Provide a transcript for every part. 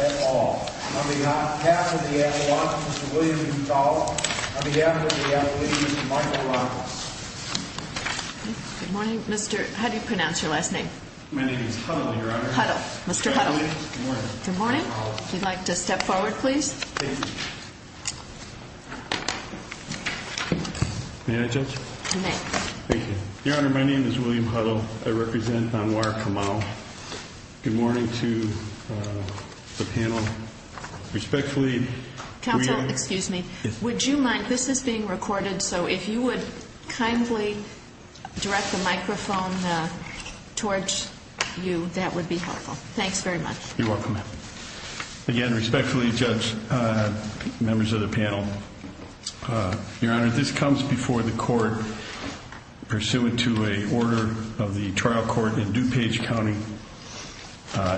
At all. On behalf of the Appalachians, Mr. William B. Fowler. On behalf of the Appalachians, Mr. Michael Robbins. My name is Huddle, Your Honor. Your Honor, my name is William Huddle. I represent Anwar Kamal. Good morning to the panel. Counsel, excuse me. Would you mind, this is being recorded, so if you would kindly direct the microphone towards you, that would be helpful. Thanks very much. You're welcome. Again, respectfully, Judge, members of the panel, Your Honor, this comes before the court pursuant to an order of the trial court in DuPage County,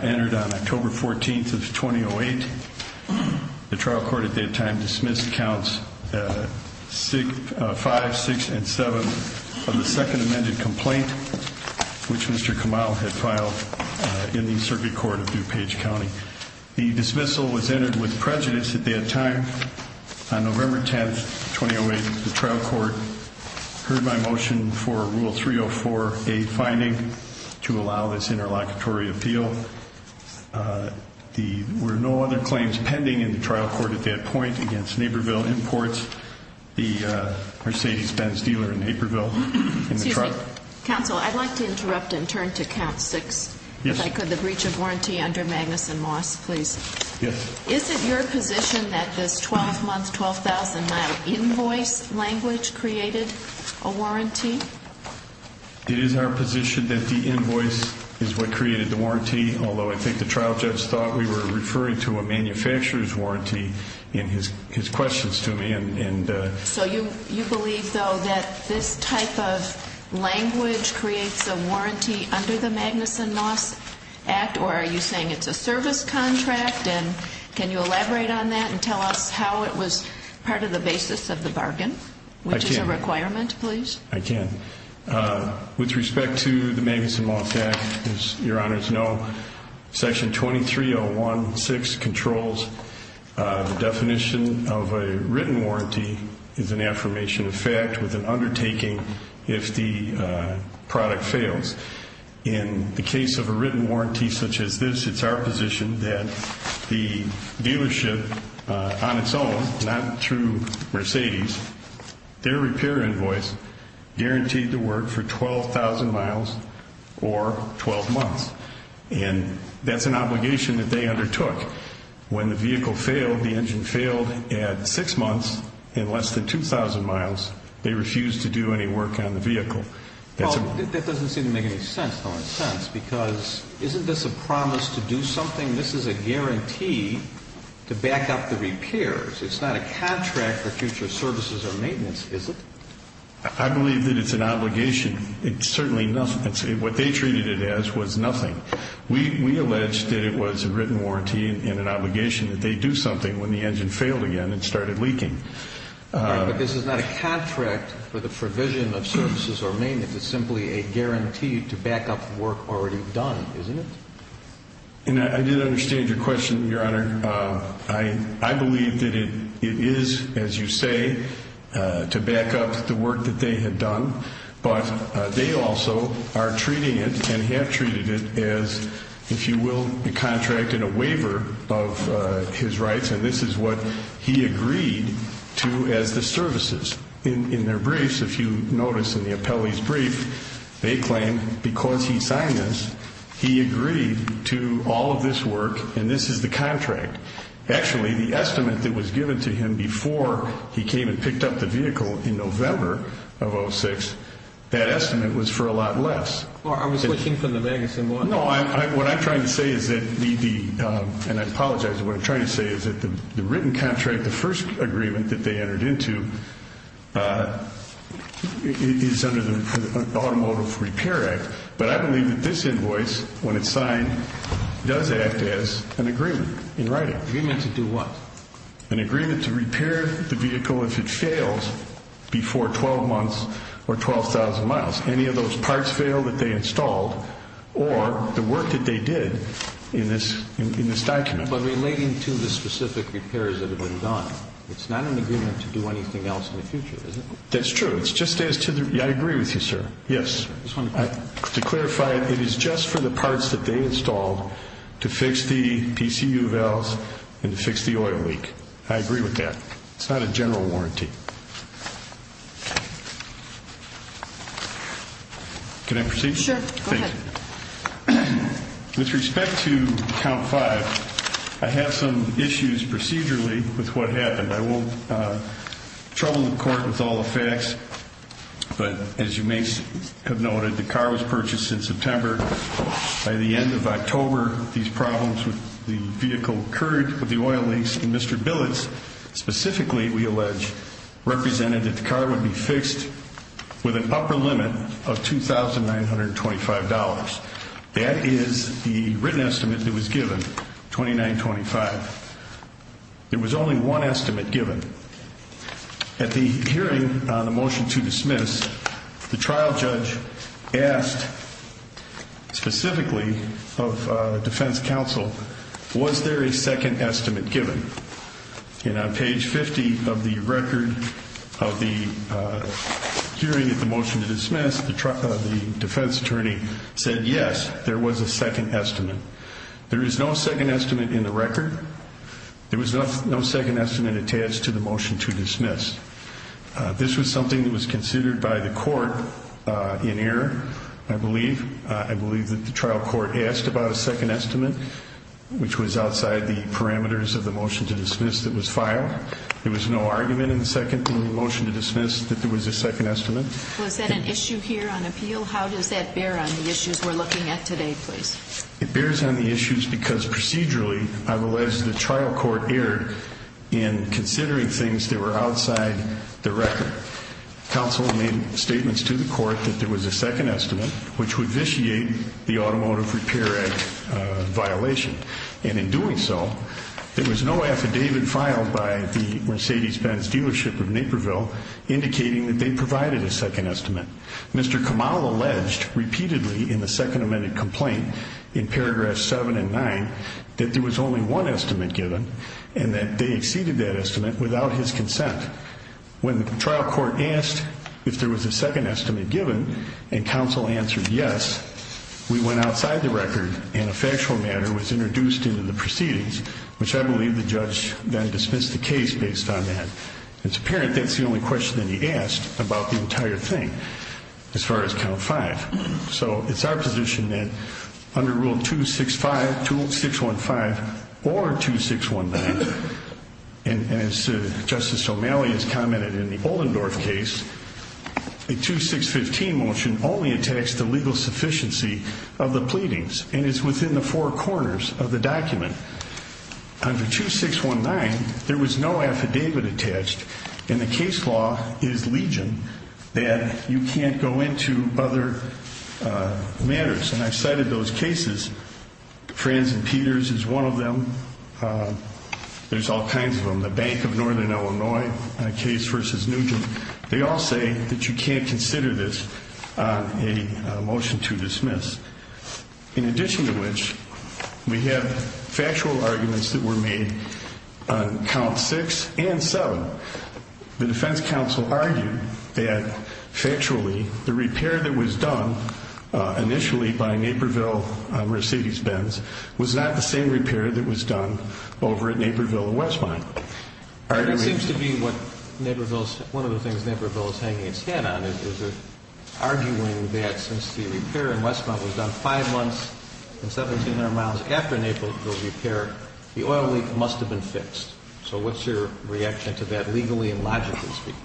entered on October 14th of 2008. The trial court at that time dismissed counts 5, 6, and 7 of the second amended complaint, which Mr. Kamal had filed in the circuit court of DuPage County. The dismissal was entered with prejudice at that time. On November 10th, 2008, the trial court heard my motion for Rule 304A finding to allow this interlocutory appeal. There were no other claims pending in the trial court at that point against Naperville Imports, the Mercedes-Benz dealer in Naperville. Excuse me. Counsel, I'd like to interrupt and turn to count 6, if I could, the breach of warranty under Magnuson Moss, please. Yes. Is it your position that this 12-month, 12,000-mile invoice language created a warranty? It is our position that the invoice is what created the warranty, although I think the trial judge thought we were referring to a manufacturer's warranty in his questions to me. So you believe, though, that this type of language creates a warranty under the Magnuson Moss Act, or are you saying it's a service contract? And can you elaborate on that and tell us how it was part of the basis of the bargain, which is a requirement, please? I can. With respect to the Magnuson Moss Act, as your Honors know, Section 23016 controls the definition of a written warranty is an affirmation of fact with an undertaking if the product fails. In the case of a written warranty such as this, it's our position that the dealership on its own, not through Mercedes, their repair invoice guaranteed to work for 12,000 miles or 12 months. And that's an obligation that they undertook. When the vehicle failed, the engine failed at 6 months and less than 2,000 miles, they refused to do any work on the vehicle. Well, that doesn't seem to make any sense, though, in a sense, because isn't this a promise to do something? This is a guarantee to back up the repairs. It's not a contract for future services or maintenance, is it? I believe that it's an obligation. It's certainly nothing. What they treated it as was nothing. We allege that it was a written warranty and an obligation that they do something when the engine failed again and started leaking. But this is not a contract for the provision of services or maintenance. It's simply a guarantee to back up work already done, isn't it? I did understand your question, Your Honor. I believe that it is, as you say, to back up the work that they had done. But they also are treating it and have treated it as, if you will, a contract and a waiver of his rights. And this is what he agreed to as the services. In their briefs, if you notice in the appellee's brief, they claim because he signed this, he agreed to all of this work, and this is the contract. Actually, the estimate that was given to him before he came and picked up the vehicle in November of 2006, that estimate was for a lot less. I was looking for the magazine. No, what I'm trying to say is that the written contract, the first agreement that they entered into, is under the Automotive Repair Act. But I believe that this invoice, when it's signed, does act as an agreement in writing. Agreement to do what? An agreement to repair the vehicle if it fails before 12 months or 12,000 miles. Any of those parts fail that they installed or the work that they did in this document. But relating to the specific repairs that have been done, it's not an agreement to do anything else in the future, is it? That's true. I agree with you, sir. Yes. To clarify, it is just for the parts that they installed to fix the PCU valves and to fix the oil leak. I agree with that. It's not a general warranty. Can I proceed? Sure, go ahead. Thank you. With respect to Count 5, I have some issues procedurally with what happened. I won't trouble the court with all the facts, but as you may have noted, the car was purchased in September. By the end of October, these problems with the vehicle occurred with the oil leaks. And Mr. Billitz specifically, we allege, represented that the car would be fixed with an upper limit of $2,925. That is the written estimate that was given, $2,925. There was only one estimate given. At the hearing on the motion to dismiss, the trial judge asked specifically of defense counsel, was there a second estimate given? And on page 50 of the record of the hearing of the motion to dismiss, the defense attorney said yes, there was a second estimate. There is no second estimate in the record. There was no second estimate attached to the motion to dismiss. This was something that was considered by the court in error, I believe. I believe that the trial court asked about a second estimate, which was outside the parameters of the motion to dismiss that was filed. There was no argument in the motion to dismiss that there was a second estimate. Was that an issue here on appeal? How does that bear on the issues we're looking at today, please? It bears on the issues because procedurally, I've alleged the trial court erred in considering things that were outside the record. Counsel made statements to the court that there was a second estimate, which would vitiate the automotive repair violation. And in doing so, there was no affidavit filed by the Mercedes-Benz dealership of Naperville indicating that they provided a second estimate. Mr. Kamal alleged repeatedly in the second amended complaint in paragraphs 7 and 9 that there was only one estimate given and that they exceeded that estimate without his consent. When the trial court asked if there was a second estimate given and counsel answered yes, we went outside the record and a factual matter was introduced into the proceedings, which I believe the judge then dismissed the case based on that. It's apparent that's the only question that he asked about the entire thing as far as count five. So it's our position that under Rule 265, 2615, or 2619, and as Justice O'Malley has commented in the Oldendorf case, a 2615 motion only attacks the legal sufficiency of the pleadings and is within the four corners of the document. Under 2619, there was no affidavit attached, and the case law is legion, that you can't go into other matters. And I've cited those cases. Franz and Peters is one of them. There's all kinds of them. The Bank of Northern Illinois case versus Nugent. They all say that you can't consider this a motion to dismiss. In addition to which, we have factual arguments that were made on count six and seven. The defense counsel argued that, factually, the repair that was done initially by Naperville on Mercedes Benz was not the same repair that was done over at Naperville and Westmont. It seems to be one of the things Naperville is hanging its head on, is arguing that since the repair in Westmont was done five months and 1,700 miles after Naperville's repair, the oil leak must have been fixed. So what's your reaction to that, legally and logically speaking?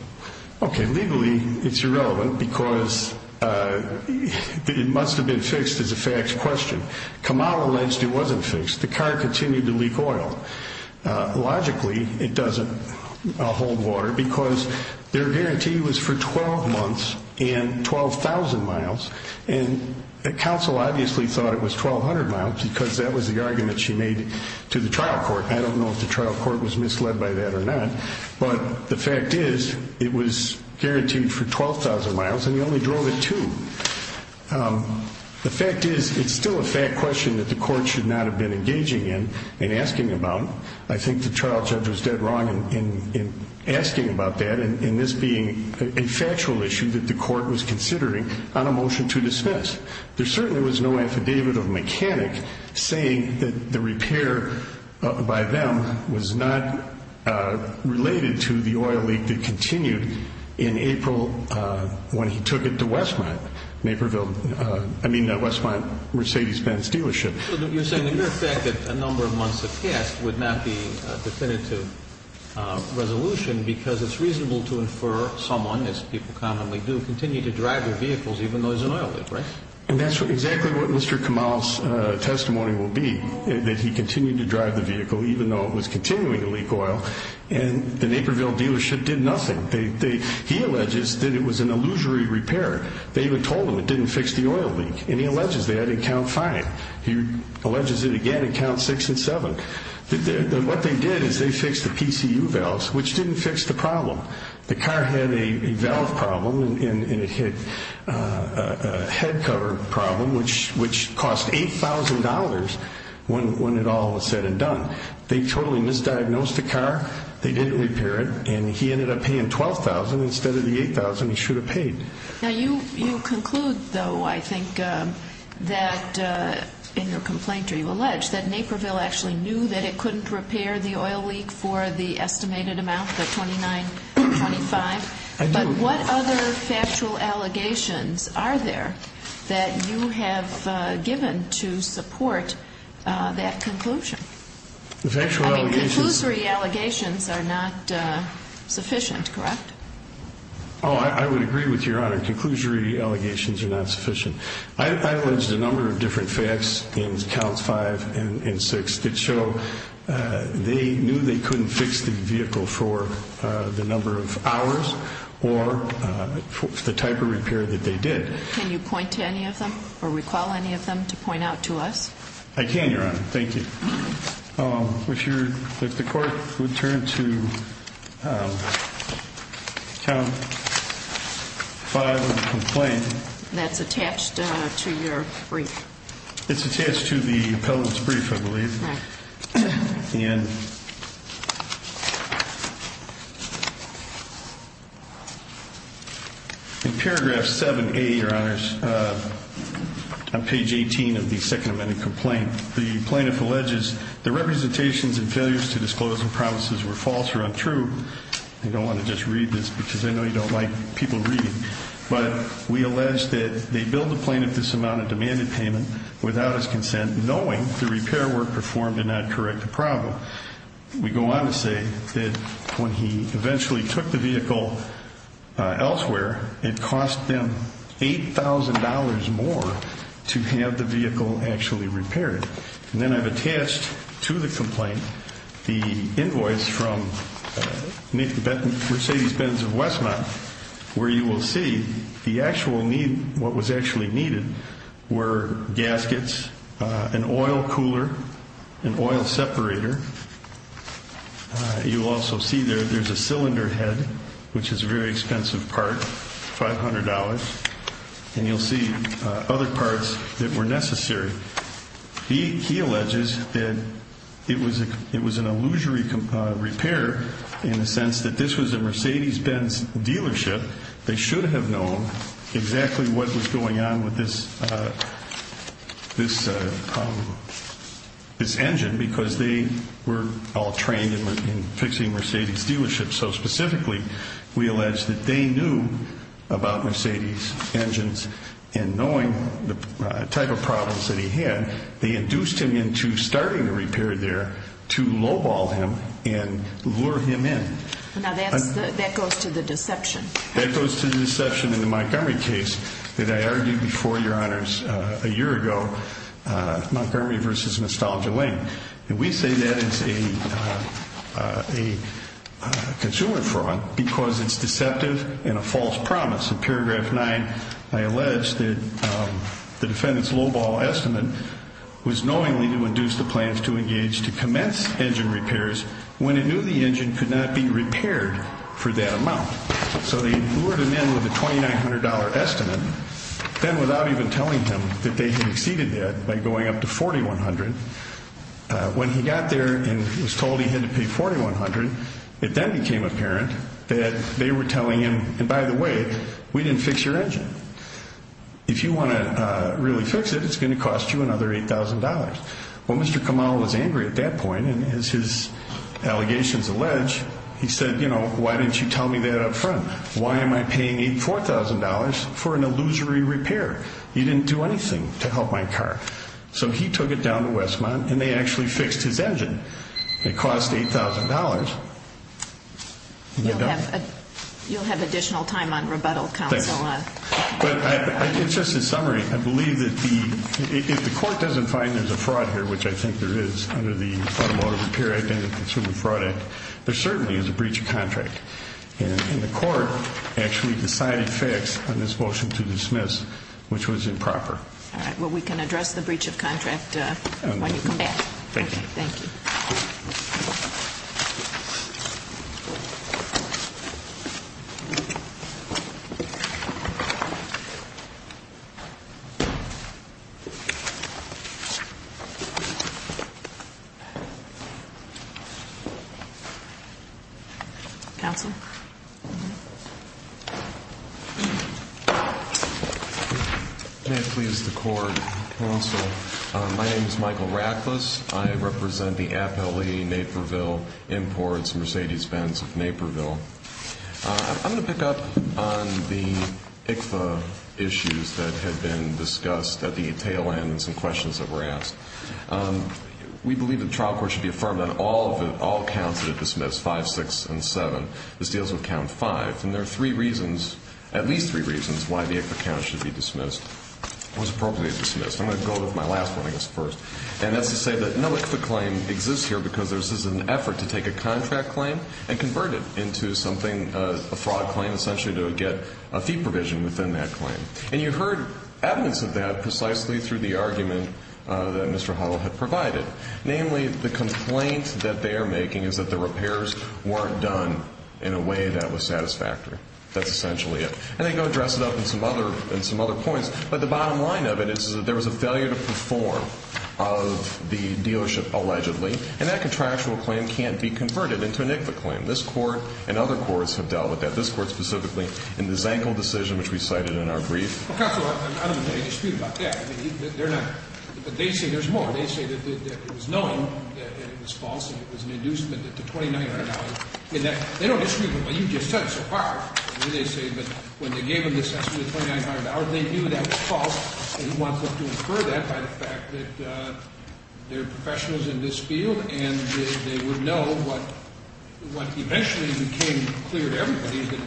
Okay. Legally, it's irrelevant because it must have been fixed is a fact question. Kamau alleged it wasn't fixed. The car continued to leak oil. Logically, it doesn't hold water because their guarantee was for 12 months and 12,000 miles. And the counsel obviously thought it was 1,200 miles because that was the argument she made to the trial court. I don't know if the trial court was misled by that or not, but the fact is it was guaranteed for 12,000 miles and he only drove it two. The fact is it's still a fact question that the court should not have been engaging in and asking about. I think the trial judge was dead wrong in asking about that and this being a factual issue that the court was considering on a motion to dismiss. There certainly was no affidavit of mechanic saying that the repair by them was not related to the oil leak that continued in April when he took it to Westmont. Naperville, I mean Westmont Mercedes-Benz dealership. You're saying the mere fact that a number of months have passed would not be definitive resolution because it's reasonable to infer someone, as people commonly do, continue to drive their vehicles even though there's an oil leak, right? And that's exactly what Mr. Kamau's testimony will be, that he continued to drive the vehicle even though it was continuing to leak oil and the Naperville dealership did nothing. He alleges that it was an illusory repair. They even told him it didn't fix the oil leak and he alleges that in count five. He alleges it again in count six and seven. What they did is they fixed the PCU valves which didn't fix the problem. The car had a valve problem and a head cover problem which cost $8,000 when it all was said and done. They totally misdiagnosed the car. They didn't repair it and he ended up paying $12,000 instead of the $8,000 he should have paid. Now you conclude though, I think, that in your complaint you allege that Naperville actually knew that it couldn't repair the oil leak for the estimated amount of $29.25. I do. What other factual allegations are there that you have given to support that conclusion? Conclusory allegations are not sufficient, correct? Oh, I would agree with Your Honor. Conclusory allegations are not sufficient. I allege a number of different facts in counts five and six that show they knew they couldn't fix the vehicle for the number of hours or the type of repair that they did. Can you point to any of them or recall any of them to point out to us? I can, Your Honor. Thank you. If the court would turn to count five of the complaint. That's attached to your brief. It's attached to the appellant's brief, I believe. In paragraph 7A, Your Honors, on page 18 of the Second Amendment complaint, the plaintiff alleges the representations and failures to disclose the promises were false or untrue. I don't want to just read this because I know you don't like people reading. But we allege that they billed the plaintiff this amount of demanded payment without his consent, knowing the repair work performed did not correct the problem. We go on to say that when he eventually took the vehicle elsewhere, it cost them $8,000 more to have the vehicle actually repaired. And then I've attached to the complaint the invoice from Mercedes-Benz of Westmont, where you will see the actual need. What was actually needed were gaskets, an oil cooler, an oil separator. You also see there there's a cylinder head, which is a very expensive part, $500. And you'll see other parts that were necessary. He alleges that it was an illusory repair in the sense that this was a Mercedes-Benz dealership. They should have known exactly what was going on with this engine because they were all trained in fixing Mercedes dealerships. So specifically, we allege that they knew about Mercedes engines and knowing the type of problems that he had, they induced him into starting the repair there to lowball him and lure him in. Now, that goes to the deception. That goes to the deception in the Montgomery case that I argued before, Your Honors, a year ago, Montgomery versus Nostalgia Lane. And we say that it's a consumer fraud because it's deceptive and a false promise. In paragraph 9, I allege that the defendant's lowball estimate was knowingly to induce the plans to engage to commence engine repairs when he knew the engine could not be repaired for that amount. So they lured him in with a $2,900 estimate, then without even telling him that they had exceeded that by going up to $4,100. When he got there and was told he had to pay $4,100, it then became apparent that they were telling him, and by the way, we didn't fix your engine. If you want to really fix it, it's going to cost you another $8,000. Well, Mr. Kamal was angry at that point, and as his allegations allege, he said, you know, why didn't you tell me that up front? Why am I paying $4,000 for an illusory repair? You didn't do anything to help my car. So he took it down to Westmont, and they actually fixed his engine. It cost $8,000. But it's just a summary. I believe that if the court doesn't find there's a fraud here, which I think there is under the Automotive Repair Identity Consumer Fraud Act, there certainly is a breach of contract. And the court actually decided fix on this motion to dismiss, which was improper. All right. Well, we can address the breach of contract when you come back. Thank you. Thank you. Thank you. Counsel. May it please the court, counsel. My name is Michael Rackless. I represent the appellee Naperville Imports Mercedes-Benz of Naperville. I'm going to pick up on the ICFA issues that had been discussed at the tail end and some questions that were asked. We believe that the trial court should be affirmed on all counts that it dismissed, 5, 6, and 7. This deals with count 5. And there are three reasons, at least three reasons, why the ICFA count should be dismissed, was appropriately dismissed. I'm going to go with my last one, I guess, first. And that's to say that no ICFA claim exists here because this is an effort to take a contract claim and convert it into something, a fraud claim, essentially to get a fee provision within that claim. And you heard evidence of that precisely through the argument that Mr. Huddle had provided. Namely, the complaint that they are making is that the repairs weren't done in a way that was satisfactory. That's essentially it. And I think I'll address it up in some other points. But the bottom line of it is that there was a failure to perform of the dealership allegedly. And that contractual claim can't be converted into an ICFA claim. This court and other courts have dealt with that. This court specifically in the Zankel decision, which we cited in our brief. Counselor, I don't disagree about that. They're not. But they say there's more. They say that it was knowing and it was false and it was an inducement to $2,900. They don't disagree with what you just said so far. They say that when they gave him this estimate of $2,900, they knew that was false. And he wants us to infer that by the fact that there are professionals in this field and they would know what eventually became clear to everybody is that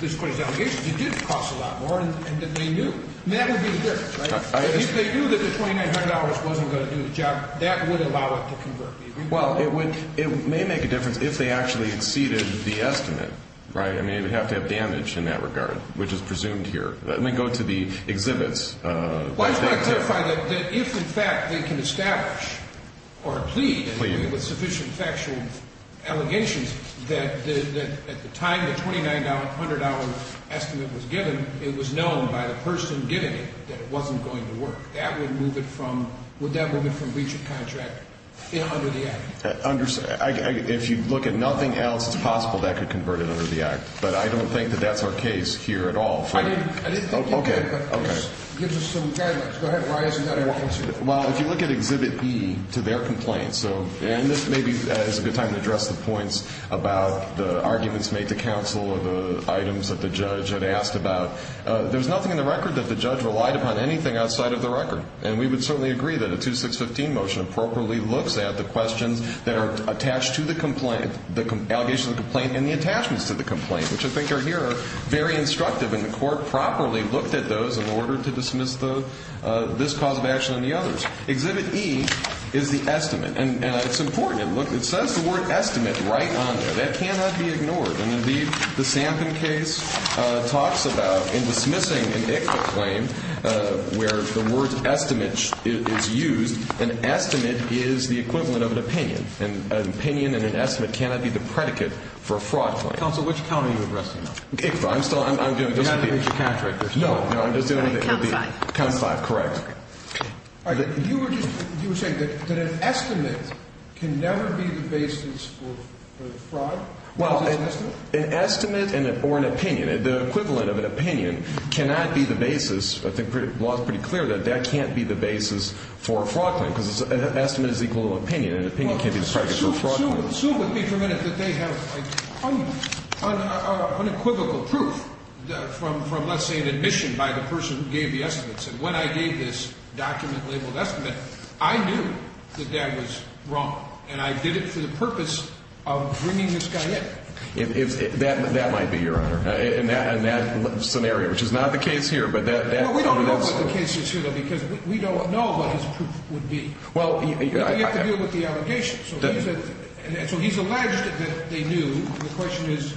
this court's allegations, it did cost a lot more and that they knew. That would be the difference, right? If they knew that the $2,900 wasn't going to do the job, that would allow it to convert. Well, it may make a difference if they actually exceeded the estimate, right? I mean, it would have to have damage in that regard, which is presumed here. Let me go to the exhibits. Well, I just want to clarify that if, in fact, they can establish or plead with sufficient factual allegations that at the time the $2,900 estimate was given, it was known by the person giving it that it wasn't going to work. That would move it from breach of contract under the Act. If you look at nothing else, it's possible that could convert it under the Act. But I don't think that that's our case here at all. I didn't think you did, but this gives us some guidelines. Go ahead. Why is it that I want you to? Well, if you look at Exhibit B to their complaints, and this maybe is a good time to address the points about the arguments made to counsel or the items that the judge had asked about, and we would certainly agree that a 2615 motion appropriately looks at the questions that are attached to the complaint, the allegations of the complaint, and the attachments to the complaint, which I think are here very instructive, and the Court properly looked at those in order to dismiss this cause of action and the others. Exhibit E is the estimate, and it's important. Look, it says the word estimate right on there. That cannot be ignored. And, indeed, the Sampson case talks about in dismissing an ICFA claim where the word estimate is used, an estimate is the equivalent of an opinion, and an opinion and an estimate cannot be the predicate for a fraud claim. Counsel, which count are you addressing now? ICFA. I'm still doing this. You haven't reached a count yet. No, no, I'm just doing it. Count five. Count five, correct. Okay. All right. You were just saying that an estimate can never be the basis for the fraud? Well, an estimate or an opinion, the equivalent of an opinion, cannot be the basis. I think the law is pretty clear that that can't be the basis for a fraud claim because an estimate is equal to an opinion, and an opinion can't be the predicate for a fraud claim. Sue with me for a minute that they have unequivocal proof from, let's say, an admission by the person who gave the estimate. When I gave this document labeled estimate, I knew that that was wrong, and I did it for the purpose of bringing this guy in. That might be, Your Honor, in that scenario, which is not the case here. Well, we don't know what the case is here, though, because we don't know what his proof would be. We have to deal with the allegations. So he's alleged that they knew. The question is,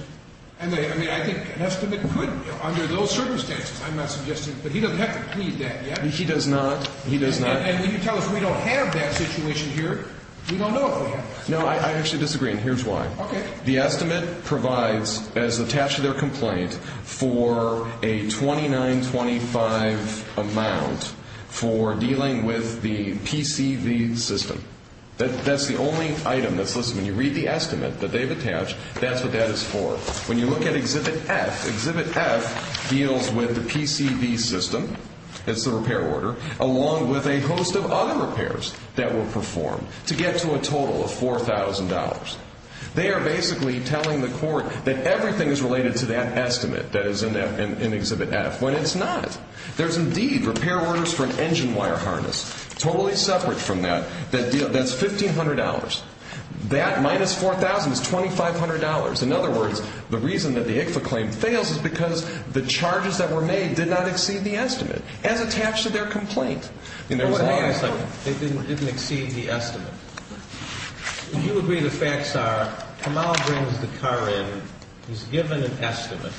I mean, I think an estimate could, under those circumstances. I'm not suggesting, but he doesn't have to plead that yet. He does not. He does not. And when you tell us we don't have that situation here, we don't know if we have it. No, I actually disagree, and here's why. Okay. The estimate provides, as attached to their complaint, for a 2925 amount for dealing with the PCV system. That's the only item that's listed. When you read the estimate that they've attached, that's what that is for. When you look at Exhibit F, Exhibit F deals with the PCV system, that's the repair order, along with a host of other repairs that were performed to get to a total of $4,000. They are basically telling the court that everything is related to that estimate that is in Exhibit F, when it's not. There's indeed repair orders for an engine wire harness, totally separate from that, that's $1,500. That minus $4,000 is $2,500. In other words, the reason that the ICFA claim fails is because the charges that were made did not exceed the estimate, as attached to their complaint. As long as they didn't exceed the estimate. You agree the facts are Kamal brings the car in, he's given an estimate,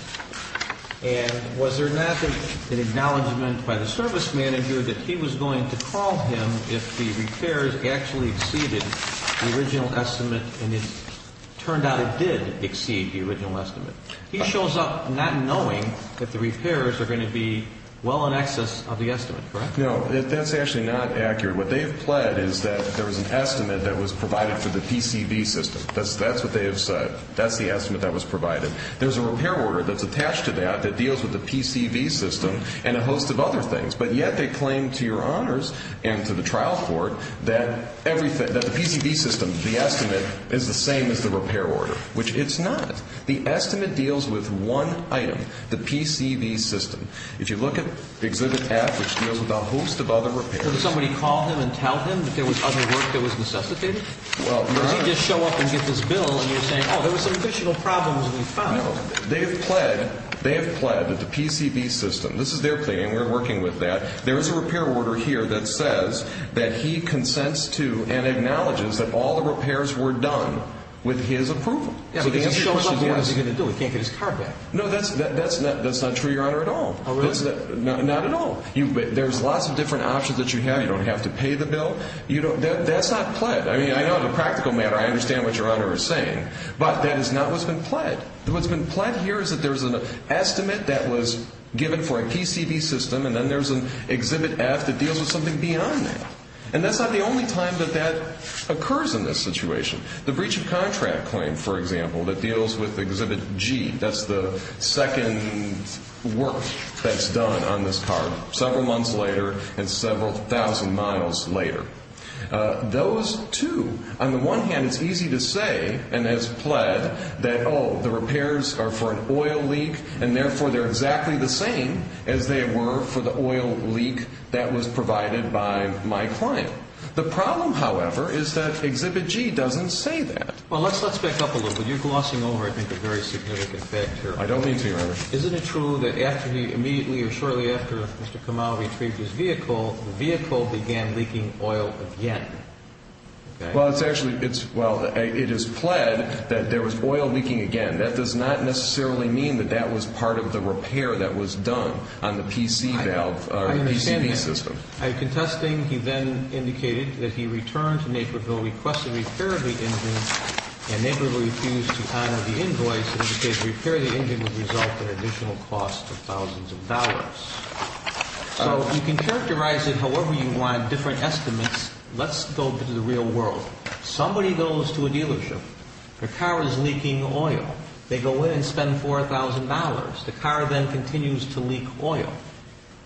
and was there not an acknowledgment by the service manager that he was going to call him if the repairs actually exceeded the original estimate, and it turned out it did exceed the original estimate. He shows up not knowing that the repairs are going to be well in excess of the estimate, correct? No, that's actually not accurate. What they've pled is that there was an estimate that was provided for the PCV system. That's what they have said. That's the estimate that was provided. There's a repair order that's attached to that that deals with the PCV system and a host of other things, but yet they claim to your honors and to the trial court that the PCV system, the estimate, is the same as the repair order, which it's not. The estimate deals with one item, the PCV system. If you look at exhibit F, which deals with a host of other repairs. Did somebody call him and tell him that there was other work that was necessitated? Well, you're right. Does he just show up and get this bill, and you're saying, oh, there was some additional problems that we found? No, they have pled that the PCV system, this is their claim, and we're working with that. There is a repair order here that says that he consents to and acknowledges that all the repairs were done with his approval. Yeah, but he's showing up and what is he going to do? He can't get his car back. No, that's not true, your honor, at all. Oh, really? Not at all. There's lots of different options that you have. You don't have to pay the bill. That's not pled. I mean, I know the practical matter. I understand what your honor is saying, but that is not what's been pled. What's been pled here is that there's an estimate that was given for a PCV system, and then there's an Exhibit F that deals with something beyond that. And that's not the only time that that occurs in this situation. The breach of contract claim, for example, that deals with Exhibit G, that's the second work that's done on this car, several months later and several thousand miles later. Those two, on the one hand, it's easy to say, and as pled, that, oh, the repairs are for an oil leak, and therefore they're exactly the same as they were for the oil leak that was provided by my client. The problem, however, is that Exhibit G doesn't say that. Well, let's back up a little bit. You're glossing over, I think, a very significant fact here. I don't mean to, your honor. Isn't it true that immediately or shortly after Mr. Kamau retrieved his vehicle, the vehicle began leaking oil again? Well, it's actually, well, it is pled that there was oil leaking again. That does not necessarily mean that that was part of the repair that was done on the PCV system. I understand that. I am contesting he then indicated that he returned to Naperville, requested repair of the engine, and Naperville refused to honor the invoice, in which case repair of the engine would result in additional costs of thousands of dollars. So you can characterize it however you want, different estimates. Let's go to the real world. Somebody goes to a dealership. Their car is leaking oil. They go in and spend $4,000. The car then continues to leak oil.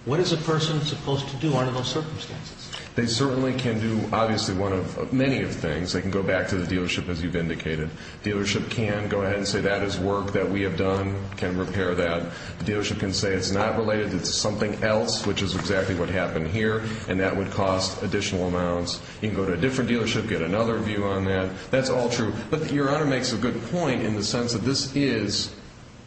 What is a person supposed to do under those circumstances? They certainly can do, obviously, one of many things. They can go back to the dealership, as you've indicated. The dealership can go ahead and say that is work that we have done, can repair that. The dealership can say it's not related, it's something else, which is exactly what happened here, and that would cost additional amounts. You can go to a different dealership, get another view on that. That's all true. But your honor makes a good point in the sense that this is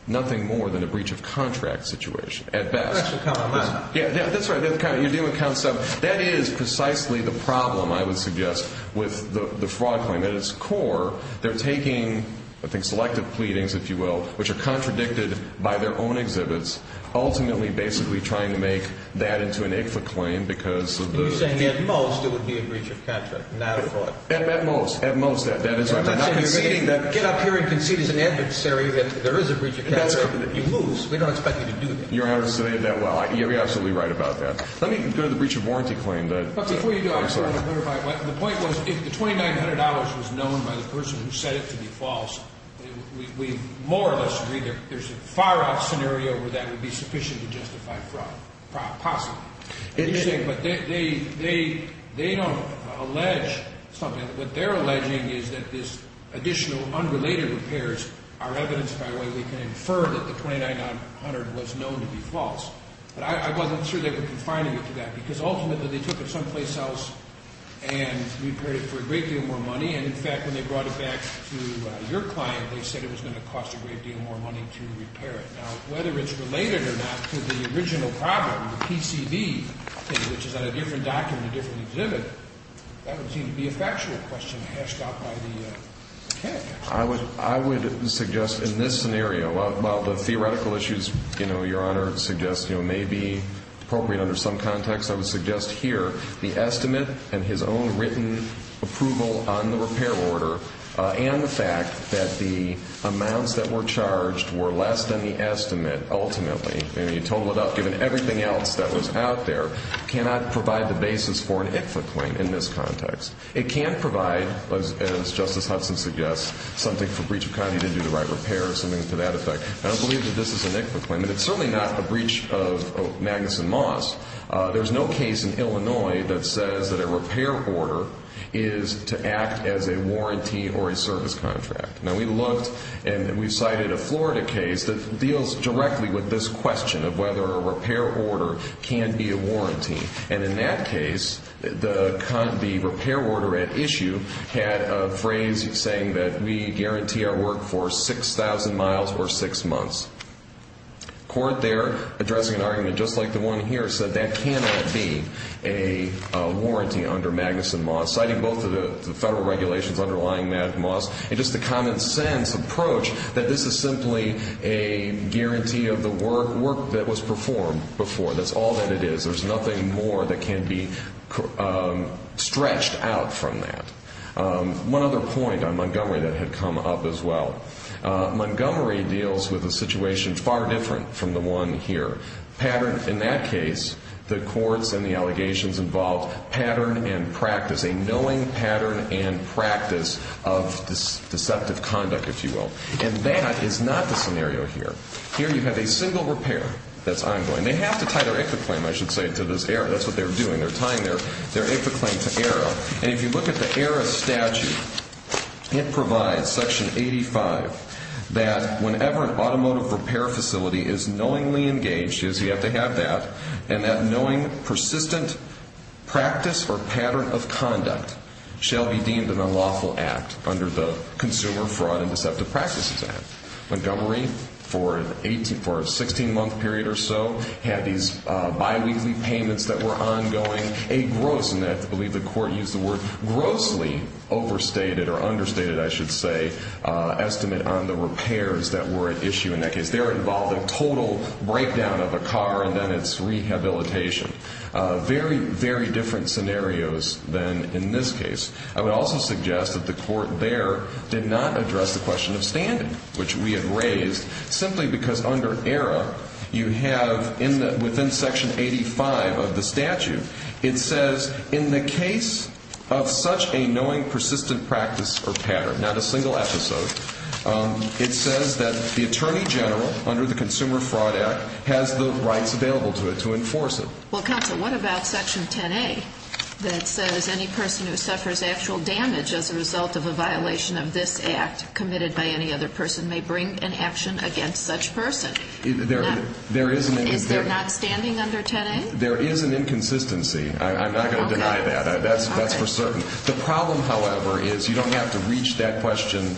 nothing more than a breach of contract situation. At best. That should count on that. Yeah, that's right. You're dealing with count seven. That is precisely the problem, I would suggest, with the fraud claim. At its core, they're taking, I think, selective pleadings, if you will, which are contradicted by their own exhibits, ultimately basically trying to make that into an ICFA claim because of the- You're saying at most it would be a breach of contract, not a fraud. At most. At most, that is right. They're not conceding that- Get up here and concede as an adversary that there is a breach of contract. You lose. We don't expect you to do that. You're absolutely right about that. Let me go to the breach of warranty claim. Before you do, I just want to clarify. The point was if the $2,900 was known by the person who said it to be false, we more or less agree there's a far-off scenario where that would be sufficient to justify fraud, possibly. But they don't allege something. What they're alleging is that this additional unrelated repairs are evidenced by the way we can infer that the $2,900 was known to be false. But I wasn't sure they were confining it to that because ultimately they took it someplace else and repaired it for a great deal more money. And, in fact, when they brought it back to your client, they said it was going to cost a great deal more money to repair it. Now, whether it's related or not to the original problem, the PCV, which is on a different document, a different exhibit, that would seem to be a factual question hashed out by the candidate. I would suggest in this scenario, while the theoretical issues your Honor suggests may be appropriate under some context, I would suggest here the estimate and his own written approval on the repair order and the fact that the amounts that were charged were less than the estimate ultimately, and you total it up given everything else that was out there, cannot provide the basis for an IFLA claim in this context. It can provide, as Justice Hudson suggests, something for breach of county to do the right repair or something to that effect. I don't believe that this is an IFLA claim, and it's certainly not a breach of Magnuson Moss. There's no case in Illinois that says that a repair order is to act as a warranty or a service contract. Now, we looked and we cited a Florida case that deals directly with this question of whether a repair order can be a warranty. And in that case, the repair order at issue had a phrase saying that we guarantee our work for 6,000 miles or six months. The court there, addressing an argument just like the one here, said that cannot be a warranty under Magnuson Moss, citing both of the federal regulations underlying Magnuson Moss, and just the common sense approach that this is simply a guarantee of the work that was performed before. That's all that it is. There's nothing more that can be stretched out from that. One other point on Montgomery that had come up as well. Montgomery deals with a situation far different from the one here. In that case, the courts and the allegations involved pattern and practice, a knowing pattern and practice of deceptive conduct, if you will. And that is not the scenario here. Here you have a single repair that's ongoing. And they have to tie their IFCA claim, I should say, to this error. That's what they're doing. They're tying their IFCA claim to error. And if you look at the error statute, it provides, Section 85, that whenever an automotive repair facility is knowingly engaged, you have to have that, and that knowing persistent practice or pattern of conduct shall be deemed an unlawful act under the Consumer Fraud and Deceptive Practices Act. Montgomery, for a 16-month period or so, had these biweekly payments that were ongoing, a gross, and I believe the court used the word, grossly overstated or understated, I should say, estimate on the repairs that were at issue in that case. They were involved in total breakdown of a car and then its rehabilitation. Very, very different scenarios than in this case. I would also suggest that the court there did not address the question of standing, which we had raised simply because under error, you have within Section 85 of the statute, it says in the case of such a knowing persistent practice or pattern, not a single episode, it says that the attorney general under the Consumer Fraud Act has the rights available to it to enforce it. Well, counsel, what about Section 10A that says any person who suffers actual damage as a result of a violation of this act committed by any other person may bring an action against such person? Is there not standing under 10A? There is an inconsistency. I'm not going to deny that. That's for certain. The problem, however, is you don't have to reach that question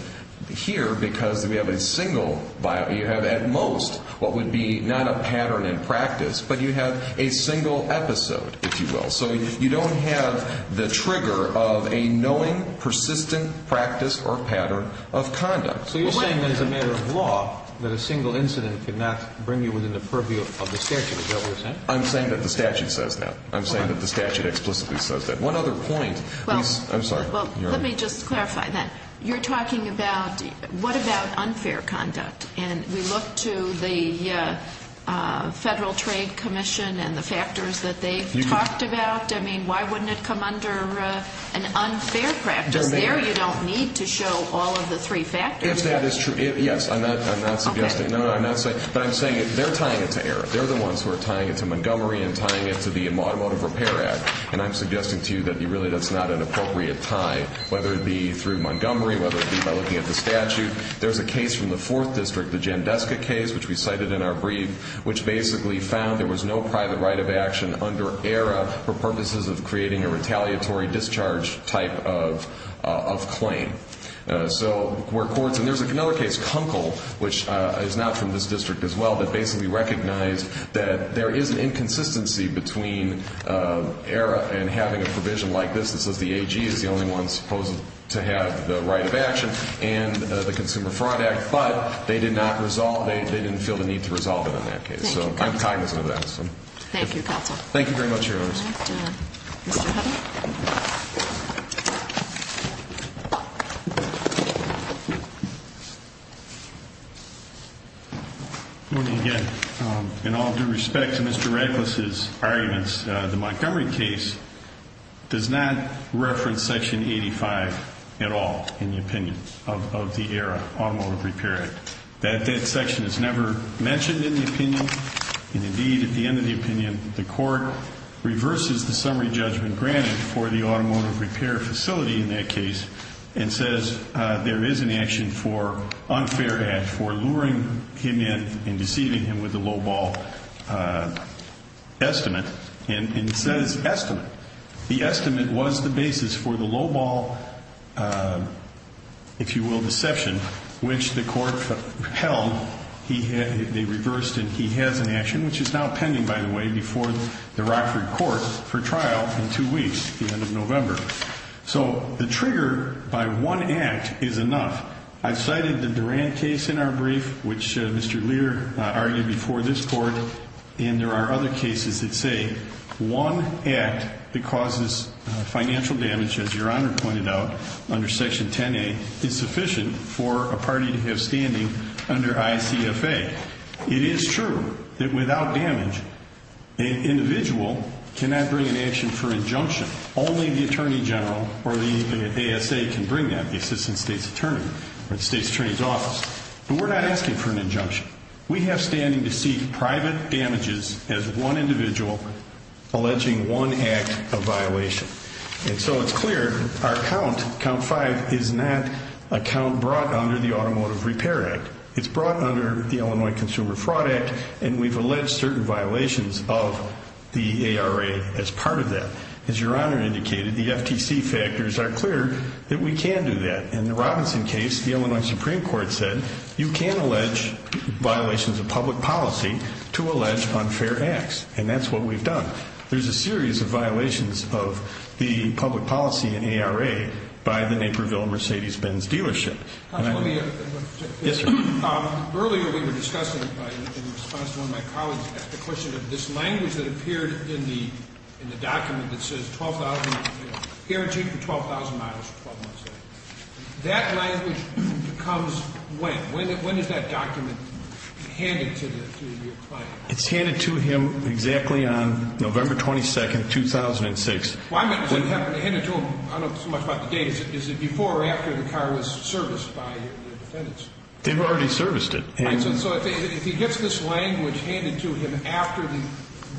here because we have a single, you have at most what would be not a pattern in practice, but you have a single episode, if you will. So you don't have the trigger of a knowing persistent practice or pattern of conduct. So you're saying as a matter of law that a single incident could not bring you within the purview of the statute. Is that what you're saying? I'm saying that the statute says that. I'm saying that the statute explicitly says that. One other point. I'm sorry. Let me just clarify that. You're talking about what about unfair conduct? And we look to the Federal Trade Commission and the factors that they've talked about. I mean, why wouldn't it come under an unfair practice? There you don't need to show all of the three factors. If that is true, yes. I'm not suggesting. No, I'm not saying. But I'm saying they're tying it to Eric. They're the ones who are tying it to Montgomery and tying it to the Automotive Repair Act. And I'm suggesting to you that really that's not an appropriate tie, whether it be through Montgomery, whether it be by looking at the statute. There's a case from the Fourth District, the Jandeska case, which we cited in our brief, which basically found there was no private right of action under ERA for purposes of creating a retaliatory discharge type of claim. So where courts, and there's another case, Kunkel, which is not from this district as well, that basically recognized that there is an inconsistency between ERA and having a provision like this that says the AG is the only one supposed to have the right of action and the Consumer Fraud Act. But they did not resolve it. They didn't feel the need to resolve it in that case. So I'm cognizant of that. Thank you, counsel. Thank you very much, Your Honors. Thank you, Your Honor. Mr. Hutton. Good morning again. In all due respect to Mr. Radcliffe's arguments, the Montgomery case does not reference Section 85 at all in the opinion of the ERA Automotive Repair Act. That section is never mentioned in the opinion. And indeed, at the end of the opinion, the court reverses the summary judgment granted for the automotive repair facility in that case and says there is an action for unfair act for luring him in and deceiving him with a lowball estimate. And it says estimate. The estimate was the basis for the lowball, if you will, deception, which the court held. They reversed it. He has an action, which is now pending, by the way, before the Rockford court for trial in two weeks, the end of November. So the trigger by one act is enough. I've cited the Duran case in our brief, which Mr. Lear argued before this court. And there are other cases that say one act that causes financial damage, as Your Honor pointed out, under Section 10A, is sufficient for a party to have standing under ICFA. It is true that without damage, an individual cannot bring an action for injunction. Only the attorney general or the ASA can bring that, the assistant state's attorney or the state's attorney's office. But we're not asking for an injunction. We have standing to seek private damages as one individual alleging one act of violation. And so it's clear our count, count five, is not a count brought under the Automotive Repair Act. It's brought under the Illinois Consumer Fraud Act, and we've alleged certain violations of the ARA as part of that. As Your Honor indicated, the FTC factors are clear that we can do that. In the Robinson case, the Illinois Supreme Court said you can allege violations of public policy to allege unfair acts, and that's what we've done. There's a series of violations of the public policy in ARA by the Naperville Mercedes-Benz dealership. Yes, sir. Earlier we were discussing, in response to one of my colleagues, the question of this language that appeared in the document that says 12,000, guaranteed for 12,000 miles for 12 months. That language becomes when? When is that document handed to the client? It's handed to him exactly on November 22nd, 2006. I don't know so much about the date. Is it before or after the car was serviced by the defendants? They've already serviced it. All right, so if he gets this language handed to him after the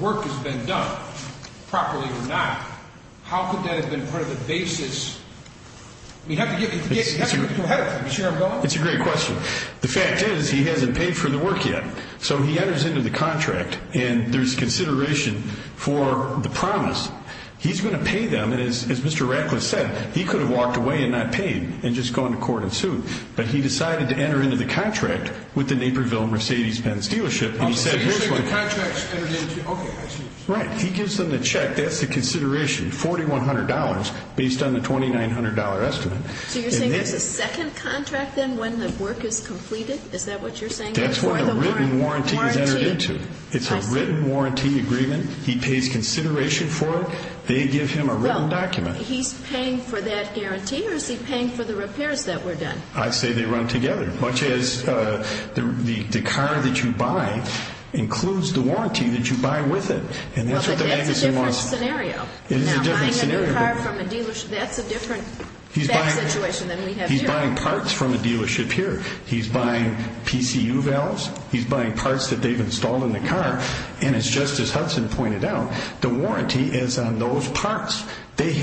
work has been done, properly or not, how could that have been part of the basis? We have to get ahead of him. It's a great question. The fact is he hasn't paid for the work yet, so he enters into the contract, and there's consideration for the promise. He's going to pay them, and as Mr. Radcliffe said, he could have walked away and not paid and just gone to court and sued, but he decided to enter into the contract with the Naperville Mercedes-Benz dealership. So you're saying the contract's entered into? Okay, I see. Right. He gives them the check. That's the consideration, $4,100 based on the $2,900 estimate. So you're saying there's a second contract then when the work is completed? Is that what you're saying? That's where the written warranty is entered into. It's a written warranty agreement. He pays consideration for it. They give him a written document. He's paying for that guarantee, or is he paying for the repairs that were done? I say they run together, much as the car that you buy includes the warranty that you buy with it. Well, but that's a different scenario. It is a different scenario. Now, buying a new car from a dealership, that's a different situation than we have here. He's buying parts from a dealership here. He's buying PCU valves. He's buying parts that they've installed in the car. And as Justice Hudson pointed out, the warranty is on those parts. They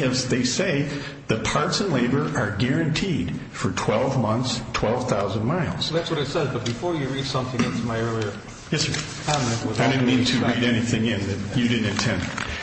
say the parts and labor are guaranteed for 12 months, 12,000 miles. That's what I said, but before you read something into my earlier comment. I didn't mean to read anything in that you didn't intend.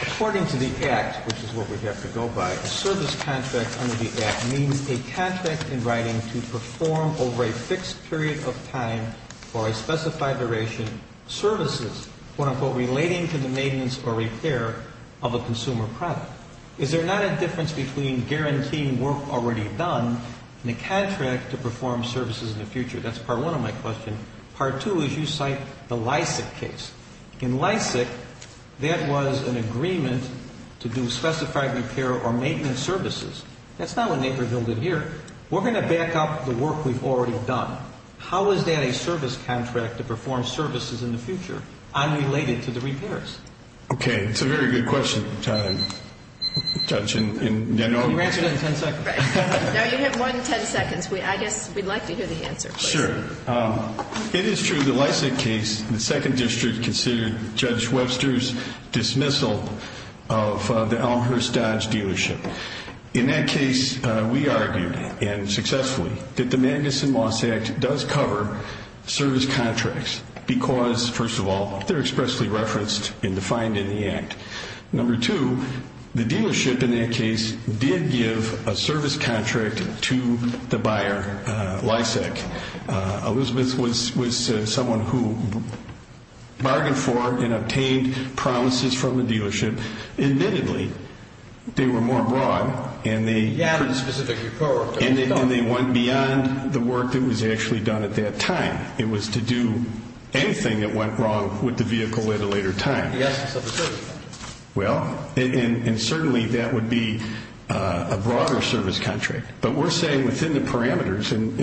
According to the Act, which is what we have to go by, a service contract under the Act means a contract in writing to perform over a fixed period of time or a specified duration services, quote-unquote, relating to the maintenance or repair of a consumer product. Is there not a difference between guaranteeing work already done and a contract to perform services in the future? That's part one of my question. Part two is you cite the Lysak case. In Lysak, that was an agreement to do specified repair or maintenance services. That's not what Naperville did here. We're going to back up the work we've already done. How is that a service contract to perform services in the future unrelated to the repairs? Okay. It's a very good question, Judge. Can you answer that in 10 seconds? No, you have more than 10 seconds. I guess we'd like to hear the answer, please. Sure. It is true the Lysak case in the 2nd District considered Judge Webster's dismissal of the Elmhurst Dodge dealership. In that case, we argued, and successfully, that the Magnuson-Lysak does cover service contracts because, first of all, they're expressly referenced and defined in the act. Number two, the dealership in that case did give a service contract to the buyer, Lysak. Elizabeth was someone who bargained for and obtained promises from the dealership. Admittedly, they were more broad, and they went beyond the work that was actually done at that time. It was to do anything that went wrong with the vehicle at a later time. Well, and certainly that would be a broader service contract. But we're saying within the parameters, and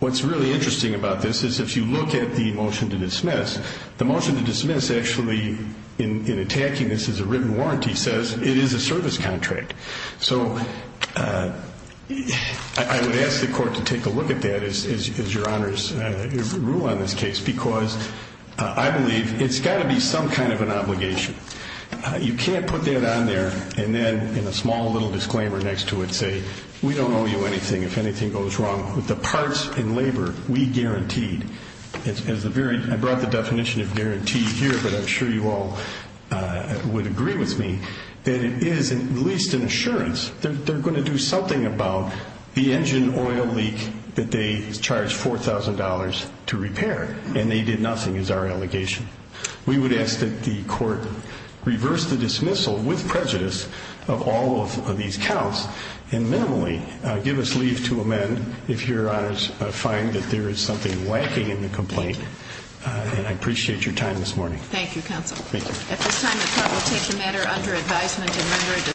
what's really interesting about this is if you look at the motion to dismiss, the motion to dismiss actually, in attacking this as a written warrant, he says it is a service contract. So I would ask the court to take a look at that as your rule on this case because I believe it's got to be some kind of an obligation. You can't put that on there and then in a small little disclaimer next to it say, we don't owe you anything if anything goes wrong with the parts and labor we guaranteed. I brought the definition of guarantee here, but I'm sure you all would agree with me that it is at least an assurance. They're going to do something about the engine oil leak that they charged $4,000 to repair, and they did nothing is our allegation. We would ask that the court reverse the dismissal with prejudice of all of these counts and minimally give us leave to amend if your honors find that there is something lacking in the complaint. And I appreciate your time this morning. Thank you, counsel. Thank you.